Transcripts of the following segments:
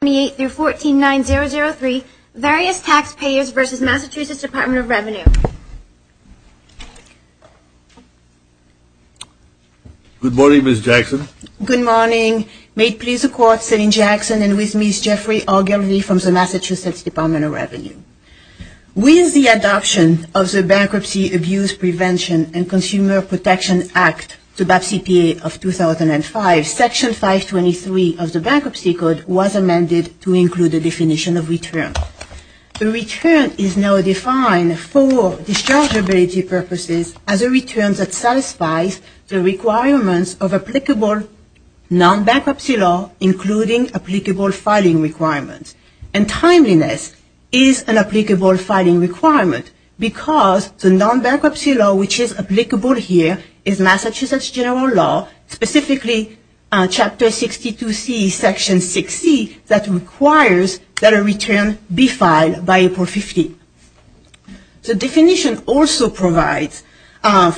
With the adoption of the Bankruptcy, Abuse Prevention, and Consumer Protection Act to include the definition of return. The return is now defined for dischargeability purposes as a return that satisfies the requirements of applicable non-bankruptcy law, including applicable filing requirements. And timeliness is an applicable filing requirement because the requires that a return be filed by April 15. The definition also provides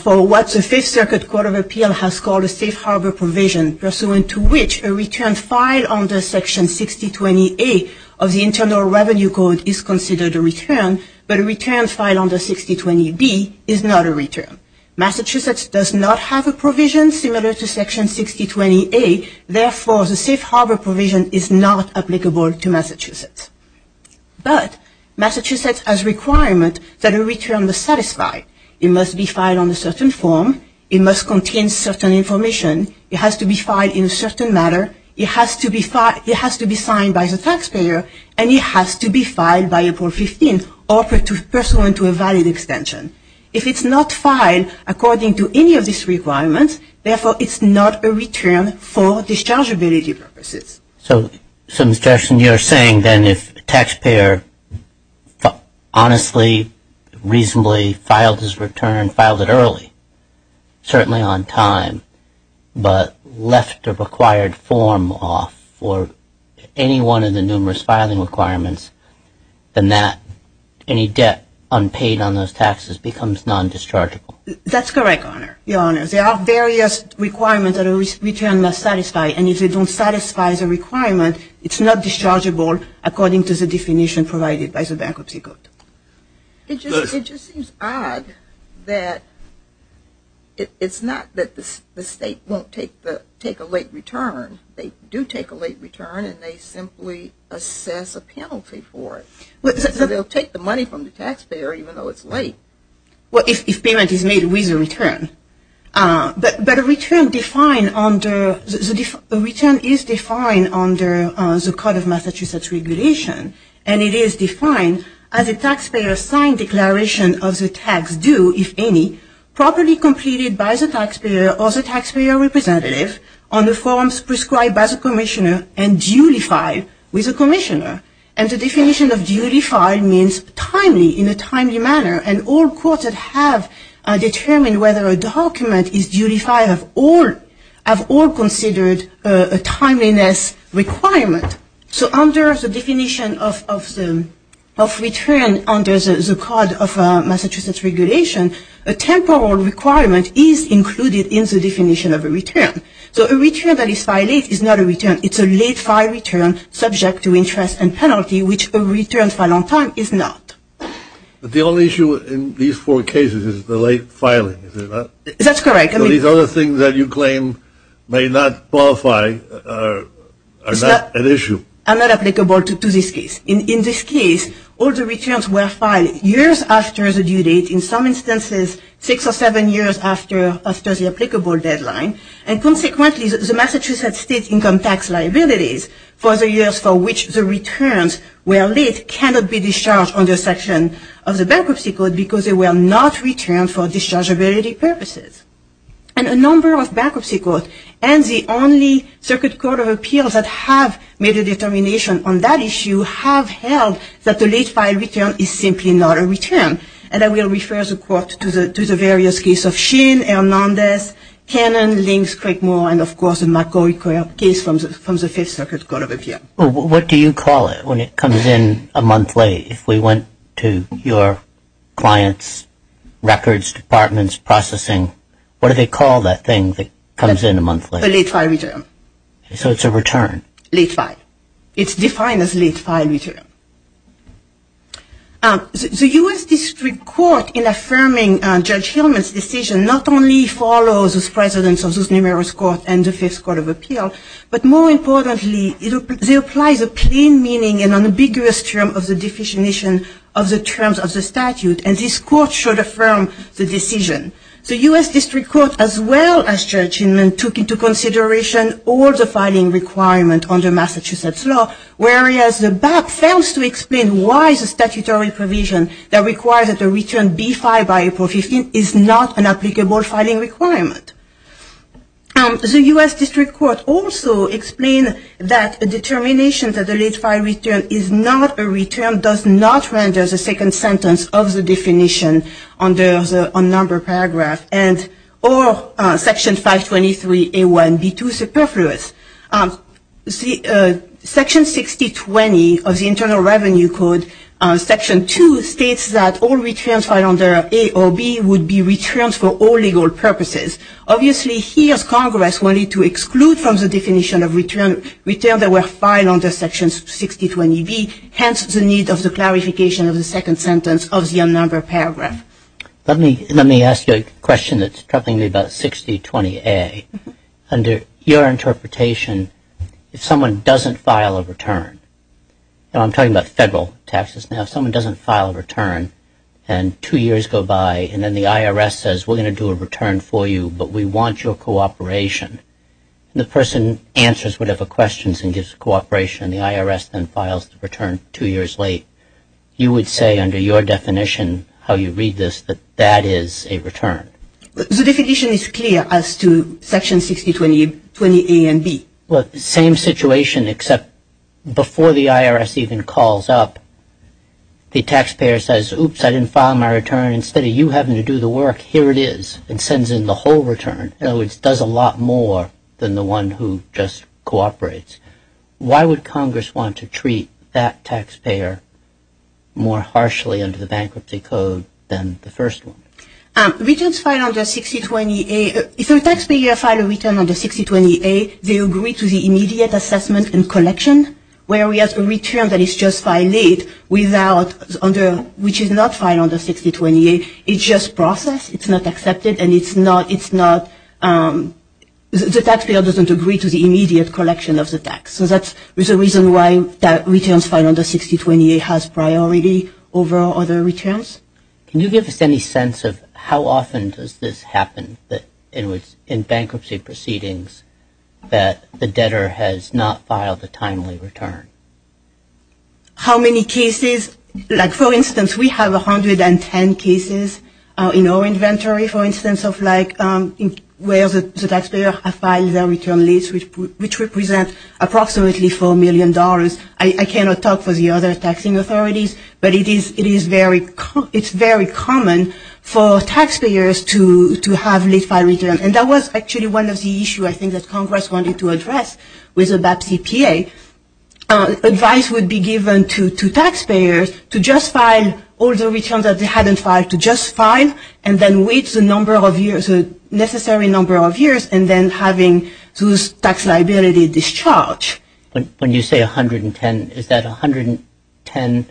for what the Fifth Circuit Court of Appeal has called a safe harbor provision pursuant to which a return filed under Section 6020A of the Internal Revenue Code is considered a return, but a return filed under 6020B is not a applicable to Massachusetts. But Massachusetts has requirements that a return must satisfy. It must be filed on a certain form, it must contain certain information, it has to be filed in a certain manner, it has to be signed by the taxpayer, and it has to be filed by April 15 or pursuant to a valid extension. If it's not filed according to any of these requirements, therefore it's not a return for dischargeability purposes. So, Mr. Jefferson, you're saying then if a taxpayer honestly, reasonably filed his return, filed it early, certainly on time, but left the required form off for any one of the numerous filing requirements, then that, any debt unpaid on those taxes becomes non-dischargeable? That's correct, Your Honor. There are various requirements that a return must satisfy, and if it doesn't satisfy the requirement, it's not dischargeable according to the definition provided by the Bankruptcy Code. It just seems odd that it's not that the State won't take a late return. They do take a late return, and they simply assess a penalty for it. They'll take the money from the taxpayer even though it's late. Well, if payment is made with a return. But a return is defined under the Code of Massachusetts Regulation, and it is defined as a taxpayer signed declaration of the tax due, if any, properly completed by the taxpayer or the taxpayer representative on the forms prescribed by the determined whether a document is duly filed have all considered a timeliness requirement. So under the definition of return under the Code of Massachusetts Regulation, a temporal requirement is included in the definition of a return. So a return that is filed late is not a return. It's a late-filed return subject to interest and penalty, which a return for a long time is not. But the only issue in these four cases is the late filing, is it not? That's correct. So these other things that you claim may not qualify are not an issue. Are not applicable to this case. In this case, all the returns were filed years after the due date. In some instances, six or seven years after the applicable deadline. And consequently, the Massachusetts State income tax liabilities for the years for which the returns were not returned for dischargeability purposes. And a number of bankruptcy courts and the only Circuit Court of Appeals that have made a determination on that issue have held that the late-filed return is simply not a return. And I will refer the Court to the various cases of Sheen, Hernandez, Cannon, Links, Craigmore, and of course the McCoy case from the Fifth Circuit Court of Appeals. Well, what do you call it when it comes in a month late? If we went to your clients' records, departments, processing, what do they call that thing that comes in a month late? A late-filed return. So it's a return. Late-filed. It's defined as late-filed return. The U.S. District Court in affirming Judge Hillman's decision not only follows the precedence of those numerous courts and the Fifth Circuit Court of Appeals, but more importantly, they apply the plain meaning and unambiguous term of the definition of the terms of the statute, and this court should affirm the decision. The U.S. District Court, as well as Judge Hillman, took into consideration all the filing requirements under Massachusetts law, whereas the back fails to explain why the statutory provision that requires that the return be filed by April 15th is not an applicable filing requirement. The U.S. District Court also explained that a determination that a late-filed return is not a return does not render the second sentence of the definition under the unnumbered paragraph or Section 523A1B2 superfluous. Section 6020 of the Internal Revenue Code, Section 2, states that all returns filed under A or B would be returns for all legal purposes. Obviously, here Congress wanted to exclude from the definition of return that were filed under Section 6020B, hence the need of the clarification of the second sentence of the unnumbered paragraph. Let me ask you a question that's troubling me about 6020A. Under your interpretation, if someone doesn't file a return, and I'm talking about federal taxes now, if someone doesn't file a return and two years later the IRS says, we're going to do a return for you, but we want your cooperation, the person answers whatever questions and gives cooperation, and the IRS then files the return two years late, you would say under your definition, how you read this, that that is a return? The definition is clear as to Section 6020A and B. Well, same situation except before the IRS even calls up, the taxpayer says, oops, I didn't file my return. Instead of you having to do the work, here it is, and sends in the whole return, which does a lot more than the one who just cooperates. Why would Congress want to treat that taxpayer more harshly under the Bankruptcy Code than the first one? Returns filed under 6020A, if a taxpayer files a return under 6020A, they agree to the immediate assessment and collection. Whereas a return that is just filed late, which is not filed under 6020A, it's just processed, it's not accepted, and it's not, the taxpayer doesn't agree to the immediate collection of the tax. So that's the reason why returns filed under 6020A has priority over other returns. Can you give us any sense of how often does this happen in bankruptcy proceedings that the debtor has not filed a timely return? How many cases? Like, for instance, we have 110 cases in our inventory, for instance, of like where the taxpayer has filed their return late, which represents approximately $4 million. I cannot talk for the other taxing authorities, but it is very common for taxpayers to have late-filed returns. And that was actually one of the issues, I think, that Congress wanted to address with the BAP CPA. Advice would be given to taxpayers to just file all the returns that they hadn't filed, to just file, and then wait the number of years, the necessary number of years, and then having those tax liability discharged. When you say 110, is that 110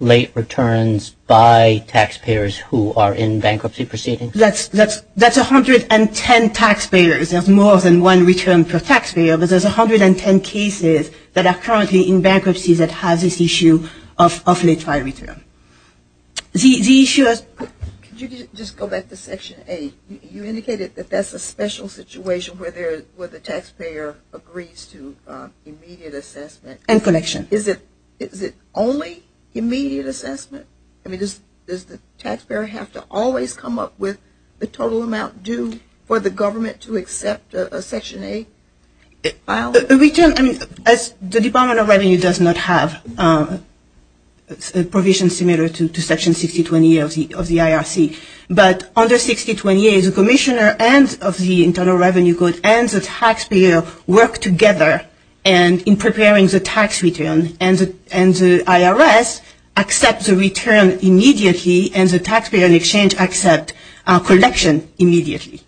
late returns by taxpayers who are in bankruptcy proceedings? That's 110 taxpayers. There's more than one return per taxpayer, but there's 110 cases that are currently in bankruptcy that has this issue of late-filed return. The issue is... Could you just go back to Section 8? You indicated that that's a special situation where the taxpayer agrees to immediate assessment. And connection. Is it only immediate assessment? I mean, does the taxpayer have to always come up with the total amount due for the government to accept a Section 8 file? The return, I mean, the Department of Revenue does not have a provision similar to Section 6020 of the IRC. But under 6020A, the commissioner of the Internal Revenue Code and the taxpayer work together in preparing the tax return. And the IRS accepts a return immediately, and the taxpayer in exchange accepts a collection immediately.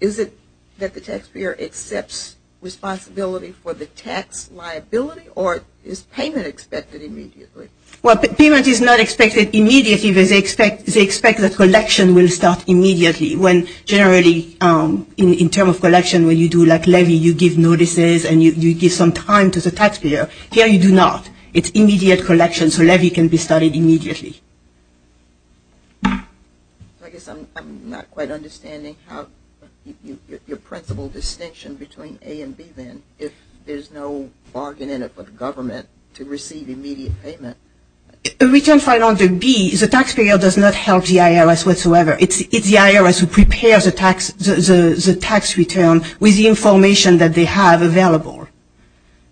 Is it that the taxpayer accepts responsibility for the tax liability, or is payment expected immediately? Well, payment is not expected immediately, but they expect the collection will start immediately. When generally, in terms of collection, when you do, like, levy, you give notices and you give some time to the taxpayer. Here you do not. It's immediate collection, so levy can be started immediately. I guess I'm not quite understanding your principle distinction between A and B, then. If there's no bargain in it for the government to receive immediate payment. A return filed under B, the taxpayer does not help the IRS whatsoever. It's the IRS who prepares the tax return with the information that they have available.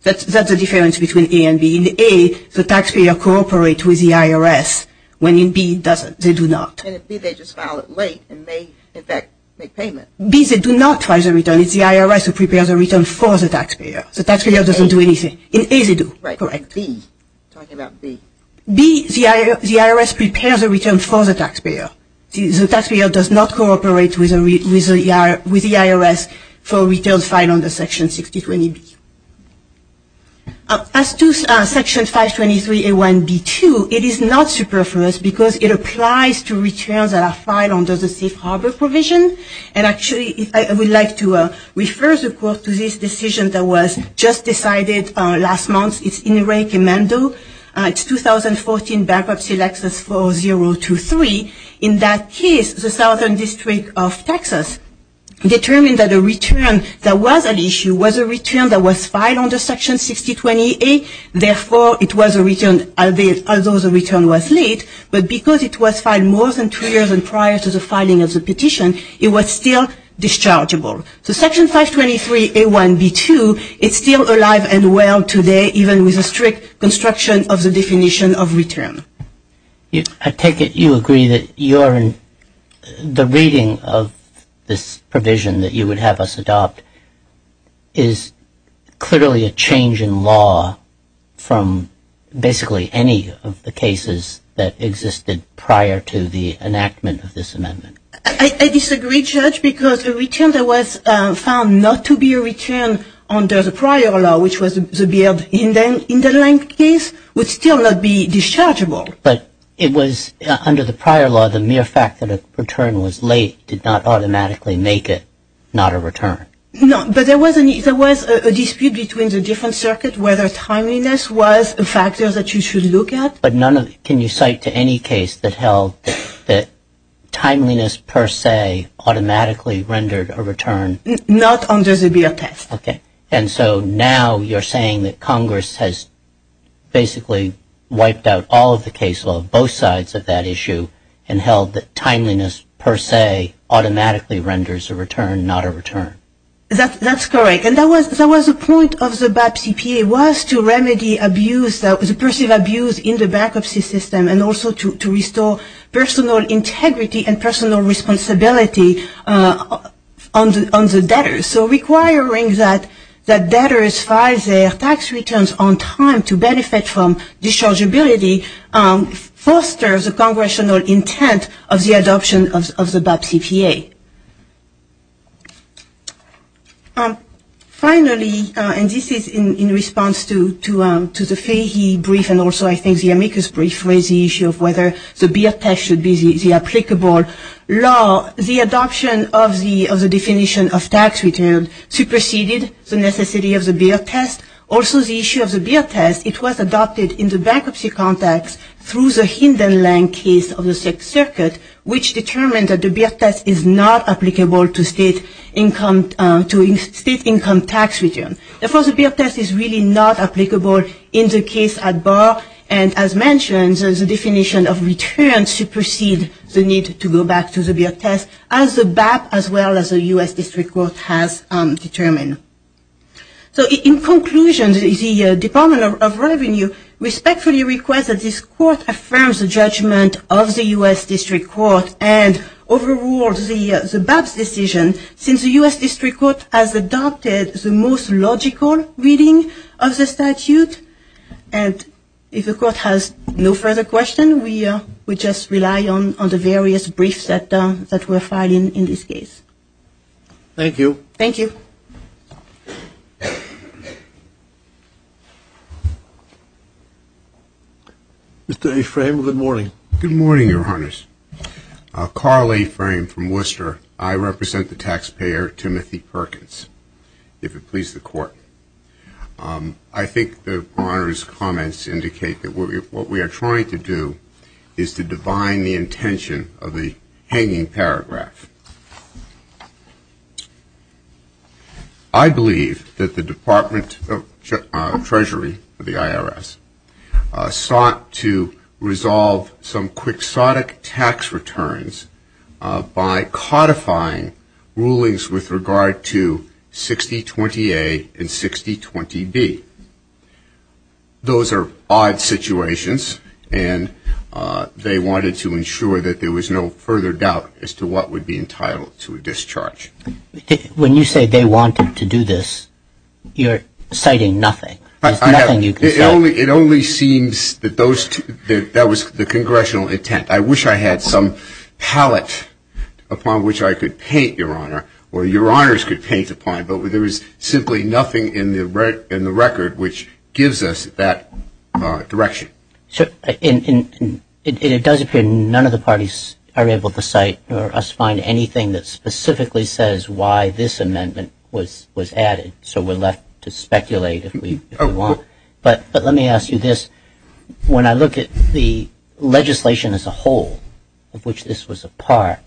That's the difference between A and B. In A, the taxpayer cooperates with the IRS, when in B, they do not. And in B, they just file it late and may, in fact, make payment. B, they do not try the return. It's the IRS who prepares the return for the taxpayer. The taxpayer doesn't do anything. In A, they do. Right. In B, talking about B. B, the IRS prepares a return for the taxpayer. The taxpayer does not cooperate with the IRS for a return filed under Section 6020B. As to Section 523A1B2, it is not superfluous because it applies to returns that are filed under the Safe Harbor Provision and actually, I would like to refer the court to this decision that was just decided last month. It's in recommendo. It's 2014 Bankruptcy Lexus 4023. In that case, the Southern District of Texas determined that a return that was an issue was a return that was filed under Section 6020A. Therefore, it was a return, although the return was late, but because it was filed more than two years prior to the filing of the petition, it was still dischargeable. So Section 523A1B2, it's still alive and well today, even with a strict construction of the definition of return. I take it you agree that the reading of this provision that you would have us adopt is clearly a change in law from basically any of the cases that existed prior to the enactment of this amendment. I disagree, Judge, because a return that was found not to be a return under the prior law, which was the Beard-Hindenland case, would still not be dischargeable. But it was under the prior law, the mere fact that a return was late did not automatically make it not a return. No, but there was a dispute between the different circuits whether timeliness was a factor that you should look at. But none of it. Can you cite to any case that held that timeliness per se automatically rendered a return? Not under the Beard test. Okay. And so now you're saying that Congress has basically wiped out all of the case law, both sides of that issue, and held that timeliness per se automatically renders a return, not a return. That's correct. And that was the point of the BAP CPA was to remedy abuse, the perceived abuse in the bankruptcy system, and also to restore personal integrity and personal responsibility on the debtors. So requiring that debtors file their tax returns on time to benefit from dischargeability fosters a congressional intent of the adoption of the BAP CPA. Finally, and this is in response to the Fahy brief and also I think the Amicus brief, the issue of whether the Beard test should be the applicable law, the adoption of the definition of tax return superseded the necessity of the Beard test. Also, the issue of the Beard test, it was adopted in the bankruptcy context through the Hinden-Lang case of the Sixth Circuit, which determined that the Beard test is not applicable to state income tax return. Therefore, the Beard test is really not applicable in the case at bar, and as mentioned, the definition of return superseded the need to go back to the Beard test, as the BAP as well as the U.S. District Court has determined. So in conclusion, the Department of Revenue respectfully requests that this Court affirms the judgment of the U.S. District Court and overrules the BAP's decision since the U.S. District Court has adopted the most logical reading of the statute. And if the Court has no further questions, we just rely on the various briefs that were filed in this case. Thank you. Thank you. Mr. Ephraim, good morning. Good morning, Your Honors. Carl Ephraim from Worcester. I represent the taxpayer, Timothy Perkins, if it pleases the Court. I think the Honor's comments indicate that what we are trying to do is to divine the intention of the hanging paragraph. I believe that the Department of Treasury, the IRS, sought to resolve some quixotic tax returns by codifying rulings with regard to 6020A and 6020B. Those are odd situations, and they wanted to ensure that there was no further doubt as to what would be entitled to a discharge. When you say they wanted to do this, you're citing nothing. There's nothing you can say. It only seems that that was the congressional intent. I wish I had some palette upon which I could paint, Your Honor, or Your Honors could paint upon, but there is simply nothing in the record which gives us that direction. It does appear none of the parties are able to cite or us find anything that specifically says why this amendment was added, so we're left to speculate if we want. But let me ask you this. When I look at the legislation as a whole of which this was a part,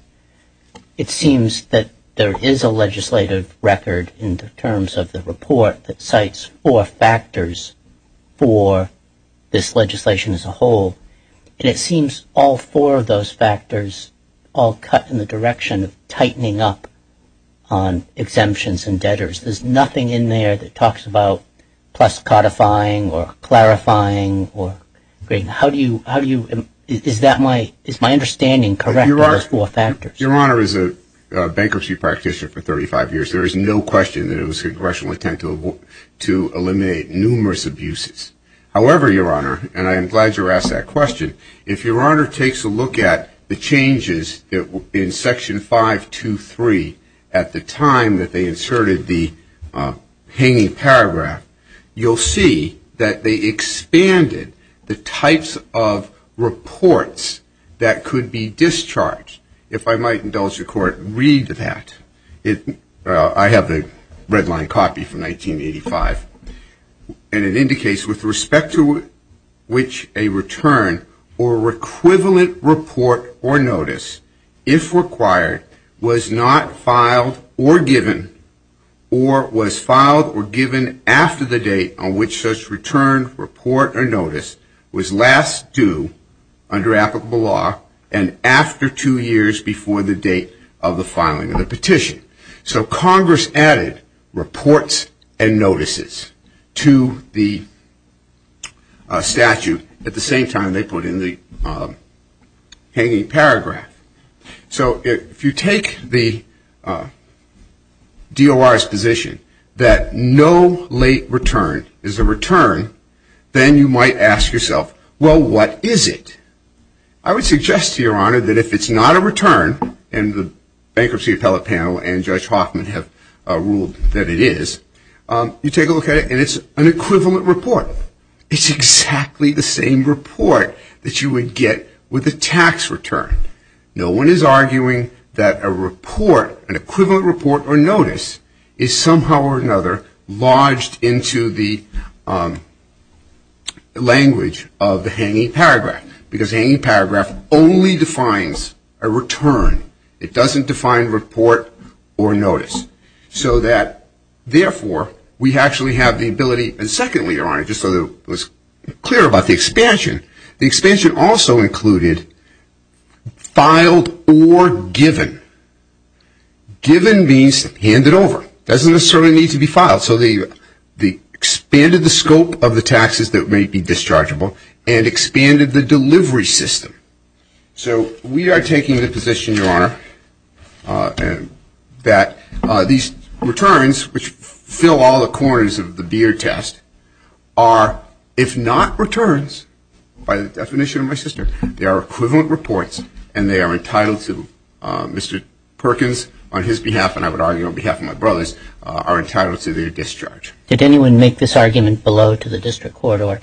it seems that there is a legislative record in terms of the report that cites four factors for this legislation as a whole, and it seems all four of those factors all cut in the direction of tightening up on exemptions and debtors. There's nothing in there that talks about plus codifying or clarifying. Is my understanding correct on those four factors? Your Honor, as a bankruptcy practitioner for 35 years, there is no question that it was a congressional intent to eliminate numerous abuses. However, Your Honor, and I am glad you were asked that question, if Your Honor takes a look at the changes in Section 523 at the time that they inserted the hanging paragraph, you'll see that they expanded the types of reports that could be discharged. If I might indulge your Court, read that. I have a red-line copy from 1985, and it indicates with respect to which a return or equivalent report or notice, if required, was not filed or given or was filed or given after the date on which such return, report, or notice was last due under applicable law and after two years before the date of the filing of the petition. So Congress added reports and notices to the statute at the same time they put in the hanging paragraph. So if you take the DOR's position that no late return is a return, then you might ask yourself, well, what is it? I would suggest to Your Honor that if it's not a return, and the bankruptcy appellate panel and Judge Hoffman have ruled that it is, you take a look at it and it's an equivalent report. It's exactly the same report that you would get with a tax return. No one is arguing that a report, an equivalent report or notice, is somehow or another lodged into the language of the hanging paragraph, because the hanging paragraph only defines a return. It doesn't define report or notice. So that, therefore, we actually have the ability, and secondly, Your Honor, just so that it was clear about the expansion, the expansion also included filed or given. Given means handed over. It doesn't necessarily need to be filed. So they expanded the scope of the taxes that may be dischargeable and expanded the delivery system. So we are taking the position, Your Honor, that these returns, which fill all the corners of the beer test, are, if not returns, by the definition of my sister, they are equivalent reports and they are entitled to, Mr. Perkins, on his behalf, and I would argue on behalf of my brothers, are entitled to their discharge. Did anyone make this argument below to the district court or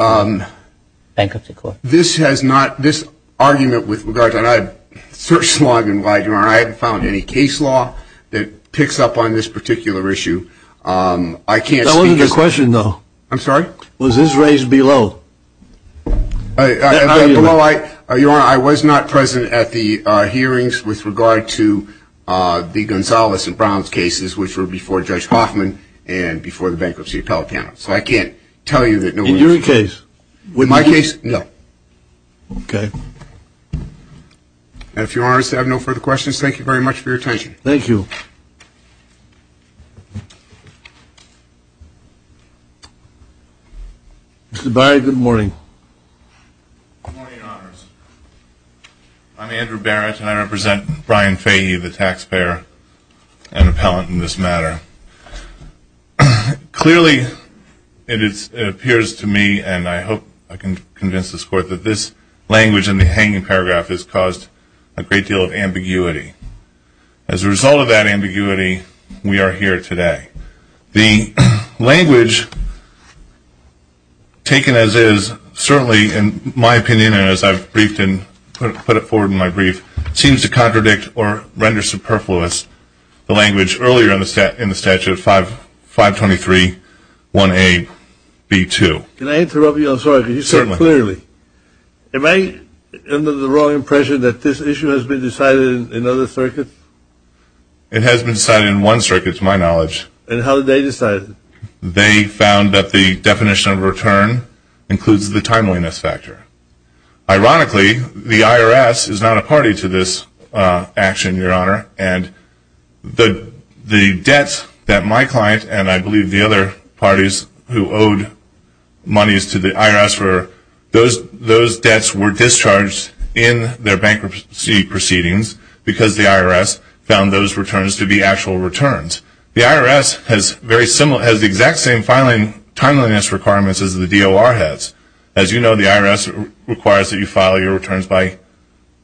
bankruptcy court? This has not, this argument with regard to, and I searched long and wide, Your Honor, I haven't found any case law that picks up on this particular issue. I can't speak to it. That wasn't the question, though. I'm sorry? Was this raised below? Below, Your Honor, I was not present at the hearings with regard to the Gonzales and Browns cases, which were before Judge Hoffman and before the bankruptcy appellate panel. So I can't tell you that no one was present. In your case? In my case, no. Okay. And if Your Honor has no further questions, thank you very much for your attention. Thank you. Mr. Barrett, good morning. Good morning, Your Honors. I'm Andrew Barrett, and I represent Brian Fahey, the taxpayer and appellant in this matter. Clearly, it appears to me, and I hope I can convince this court, that this language in the hanging paragraph has caused a great deal of ambiguity. As a result of that ambiguity, we are here today. The language taken as is, certainly, in my opinion, and as I've briefed and put it forward in my brief, seems to contradict or render superfluous the language earlier in the statute, 523-1A-B2. Can I interrupt you? Certainly. Am I under the wrong impression that this issue has been decided in other circuits? It has been decided in one circuit, to my knowledge. And how did they decide it? They found that the definition of return includes the timeliness factor. Ironically, the IRS is not a party to this action, Your Honor, and the debts that my client and I believe the other parties who owed monies to the IRS for those debts were discharged in their bankruptcy proceedings because the IRS found those returns to be actual returns. The IRS has the exact same filing timeliness requirements as the DOR has. As you know, the IRS requires that you file your returns by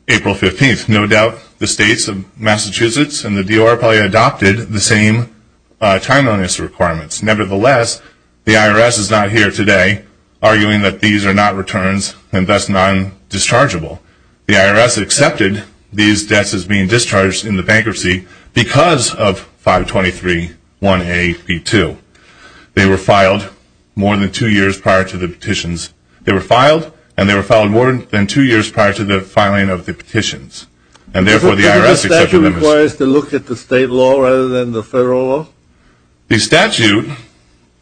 April 15th. No doubt the states of Massachusetts and the DOR probably adopted the same timeliness requirements. Nevertheless, the IRS is not here today arguing that these are not returns and thus non-dischargeable. The IRS accepted these debts as being discharged in the bankruptcy because of 523-1A-B2. They were filed more than two years prior to the petitions. They were filed, and they were filed more than two years prior to the filing of the petitions. And therefore, the IRS accepted them as- Does the statute require us to look at the state law rather than the federal law? The statute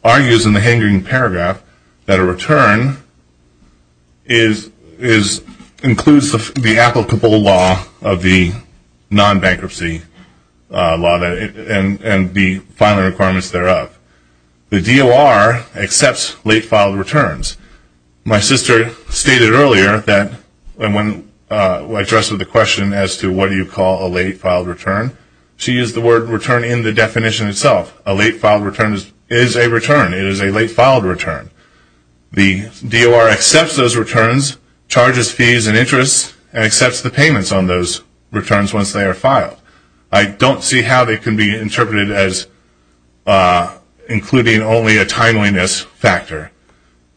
argues in the hanging paragraph that a return includes the applicable law of the non-bankruptcy law and the filing requirements thereof. The DOR accepts late-filed returns. My sister stated earlier that when addressed with a question as to what do you call a late-filed return, she used the word return in the definition itself. A late-filed return is a return. It is a late-filed return. The DOR accepts those returns, charges fees and interests, and accepts the payments on those returns once they are filed. I don't see how they can be interpreted as including only a timeliness factor.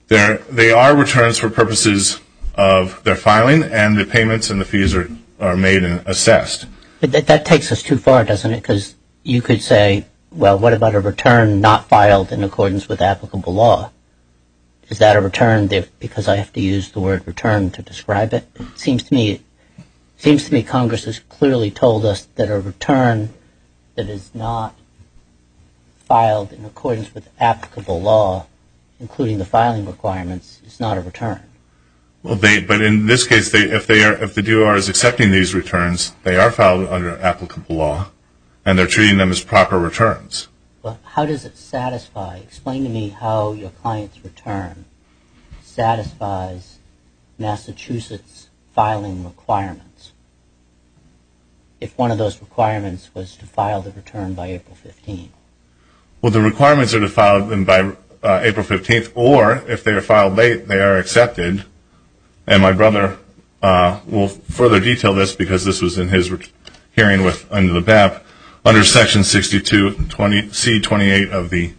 They are returns for purposes of their filing, and the payments and the fees are made and assessed. But that takes us too far, doesn't it? Because you could say, well, what about a return not filed in accordance with applicable law? Is that a return because I have to use the word return to describe it? It seems to me Congress has clearly told us that a return that is not filed in accordance with applicable law, But in this case, if the DOR is accepting these returns, they are filed under applicable law, and they're treating them as proper returns. How does it satisfy? Explain to me how your client's return satisfies Massachusetts filing requirements, if one of those requirements was to file the return by April 15th. Well, the requirements are to file them by April 15th, or if they are filed late, they are accepted. And my brother will further detail this, because this was in his hearing under the BAP. Under Section 62C28 of the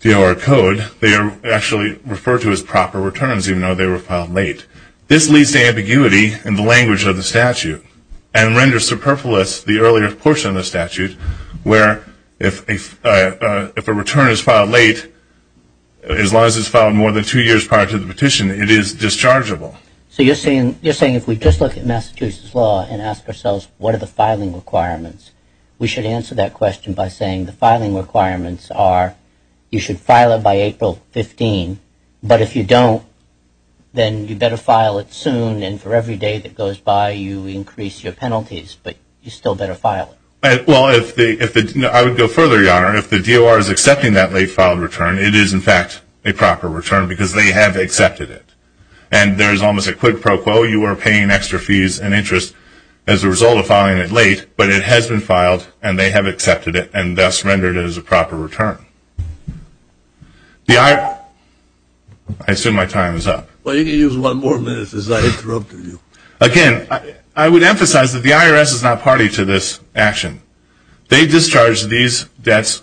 DOR Code, they are actually referred to as proper returns, even though they were filed late. This leads to ambiguity in the language of the statute, and renders superfluous the earlier portion of the statute, where if a return is filed late, as long as it's filed more than two years prior to the petition, it is dischargeable. So you're saying if we just look at Massachusetts law and ask ourselves what are the filing requirements, we should answer that question by saying the filing requirements are you should file it by April 15, but if you don't, then you better file it soon, and for every day that goes by, you increase your penalties, but you still better file it. Well, I would go further, Your Honor. If the DOR is accepting that late filed return, it is, in fact, a proper return, because they have accepted it. And there is almost a quid pro quo. You are paying extra fees and interest as a result of filing it late, but it has been filed, and they have accepted it, and thus rendered it as a proper return. I assume my time is up. Well, you can use one more minute, as I interrupted you. Again, I would emphasize that the IRS is not party to this action. They discharged these debts,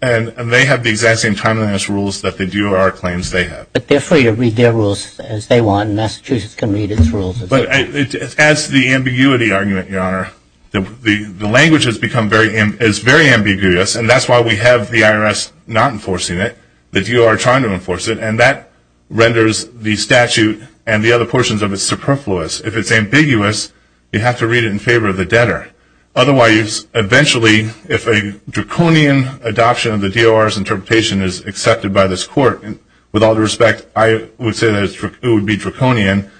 and they have the exact same timeliness rules that the DOR claims they have. But they're free to read their rules as they want, and Massachusetts can read its rules. But it adds to the ambiguity argument, Your Honor. The language has become very ambiguous, and that's why we have the IRS not enforcing it, the DOR trying to enforce it, and that renders the statute and the other portions of it superfluous. If it's ambiguous, you have to read it in favor of the debtor. Otherwise, eventually, if a draconian adoption of the DOR's interpretation is accepted by this court, with all due respect, I would say that it would be draconian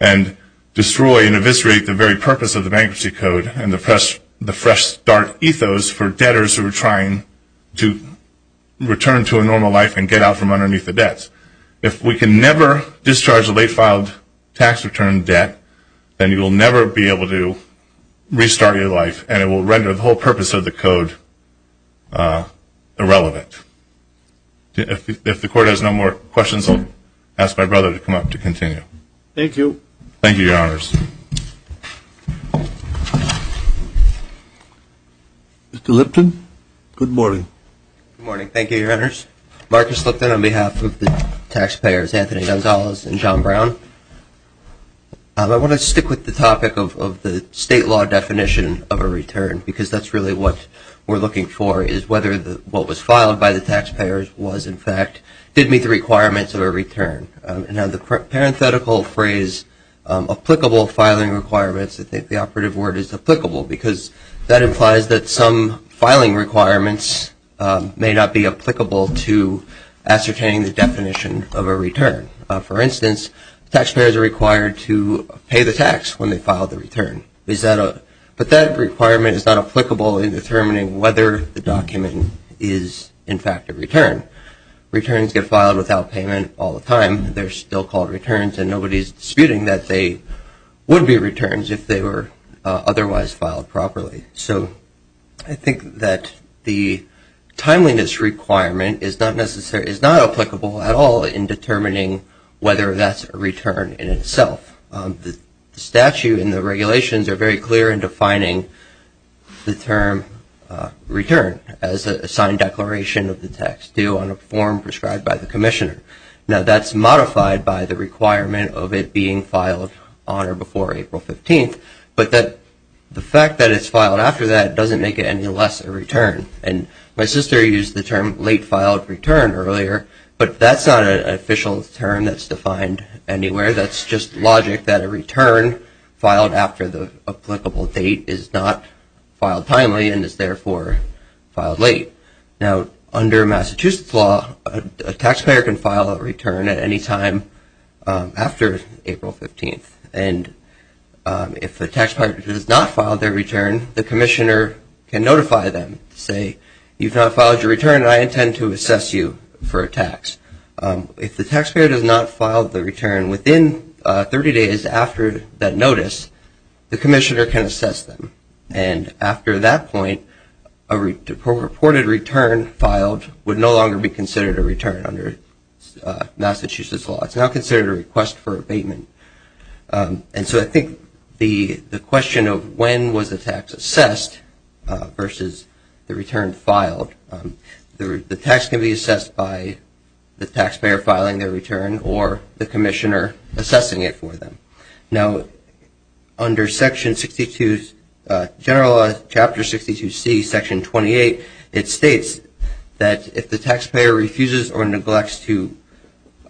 and destroy and eviscerate the very purpose of the Bankruptcy Code and the Fresh Start ethos for debtors who are trying to return to a normal life and get out from underneath the debts. If we can never discharge a late-filed tax return debt, then you will never be able to restart your life, and it will render the whole purpose of the code irrelevant. If the Court has no more questions, I'll ask my brother to come up to continue. Thank you. Thank you, Your Honors. Mr. Lipton, good morning. Good morning. Thank you, Your Honors. Marcus Lipton on behalf of the taxpayers, Anthony Gonzalez and John Brown. I want to stick with the topic of the state law definition of a return, because that's really what we're looking for is whether what was filed by the taxpayers was, in fact, did meet the requirements of a return. Now, the parenthetical phrase, applicable filing requirements, I think the operative word is applicable, because that implies that some filing requirements may not be applicable to ascertaining the definition of a return. For instance, taxpayers are required to pay the tax when they file the return, but that requirement is not applicable in determining whether the document is, in fact, a return. Returns get filed without payment all the time. They're still called returns, and nobody's disputing that they would be returns if they were otherwise filed properly. So I think that the timeliness requirement is not applicable at all in determining whether that's a return in itself. The statute and the regulations are very clear in defining the term return as a signed declaration of the tax due on a form prescribed by the commissioner. Now, that's modified by the requirement of it being filed on or before April 15th, but the fact that it's filed after that doesn't make it any less a return. And my sister used the term late-filed return earlier, but that's not an official term that's defined anywhere. That's just logic that a return filed after the applicable date is not filed timely and is, therefore, filed late. Now, under Massachusetts law, a taxpayer can file a return at any time after April 15th, and if the taxpayer does not file their return, the commissioner can notify them to say, you've not filed your return, and I intend to assess you for a tax. If the taxpayer does not file the return within 30 days after that notice, the commissioner can assess them. And after that point, a reported return filed would no longer be considered a return under Massachusetts law. It's now considered a request for abatement. And so I think the question of when was the tax assessed versus the return filed, the tax can be assessed by the taxpayer filing their return or the commissioner assessing it for them. Now, under Section 62, General Chapter 62C, Section 28, it states that if the taxpayer refuses or neglects to,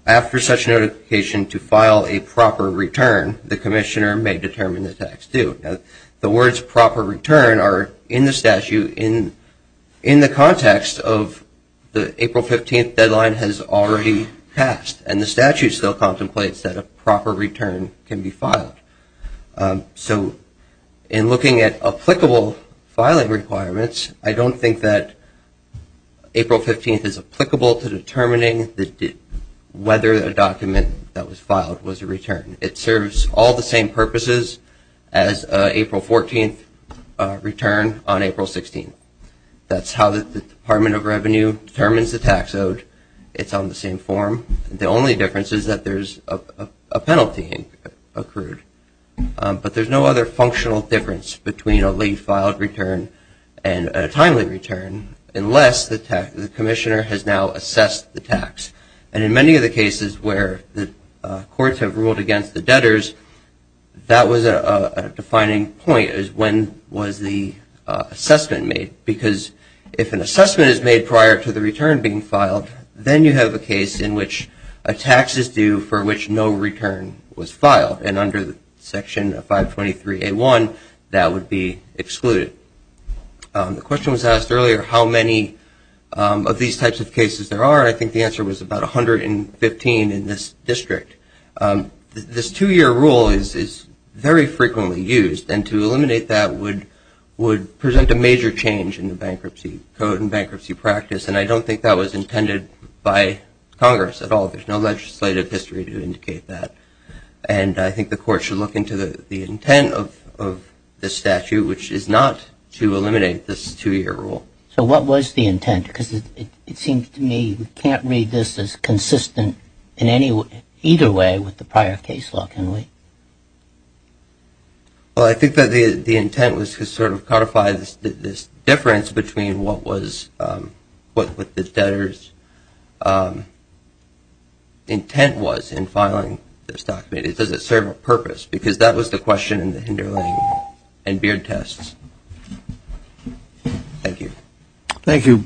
after such notification, to file a proper return, the commissioner may determine the tax due. Now, the words proper return are in the statute in the context of the April 15th deadline has already passed, and the statute still contemplates that a proper return can be filed. So in looking at applicable filing requirements, I don't think that April 15th is applicable to determining whether a document that was filed was a return. It serves all the same purposes as April 14th return on April 16th. That's how the Department of Revenue determines the tax owed. It's on the same form. The only difference is that there's a penalty accrued. But there's no other functional difference between a late filed return and a timely return unless the commissioner has now assessed the tax. And in many of the cases where the courts have ruled against the debtors, that was a defining point is when was the assessment made. Because if an assessment is made prior to the return being filed, then you have a case in which a tax is due for which no return was filed. And under Section 523A1, that would be excluded. The question was asked earlier how many of these types of cases there are. I think the answer was about 115 in this district. This two-year rule is very frequently used, and to eliminate that would present a major change in the Bankruptcy Code and bankruptcy practice. And I don't think that was intended by Congress at all. There's no legislative history to indicate that. And I think the court should look into the intent of this statute, which is not to eliminate this two-year rule. So what was the intent? Because it seems to me we can't read this as consistent in either way with the prior case law, can we? Well, I think that the intent was to sort of clarify this difference between what the debtor's intent was in filing this document. Does it serve a purpose? Because that was the question in the Hinderling and Beard tests. Thank you. Thank you.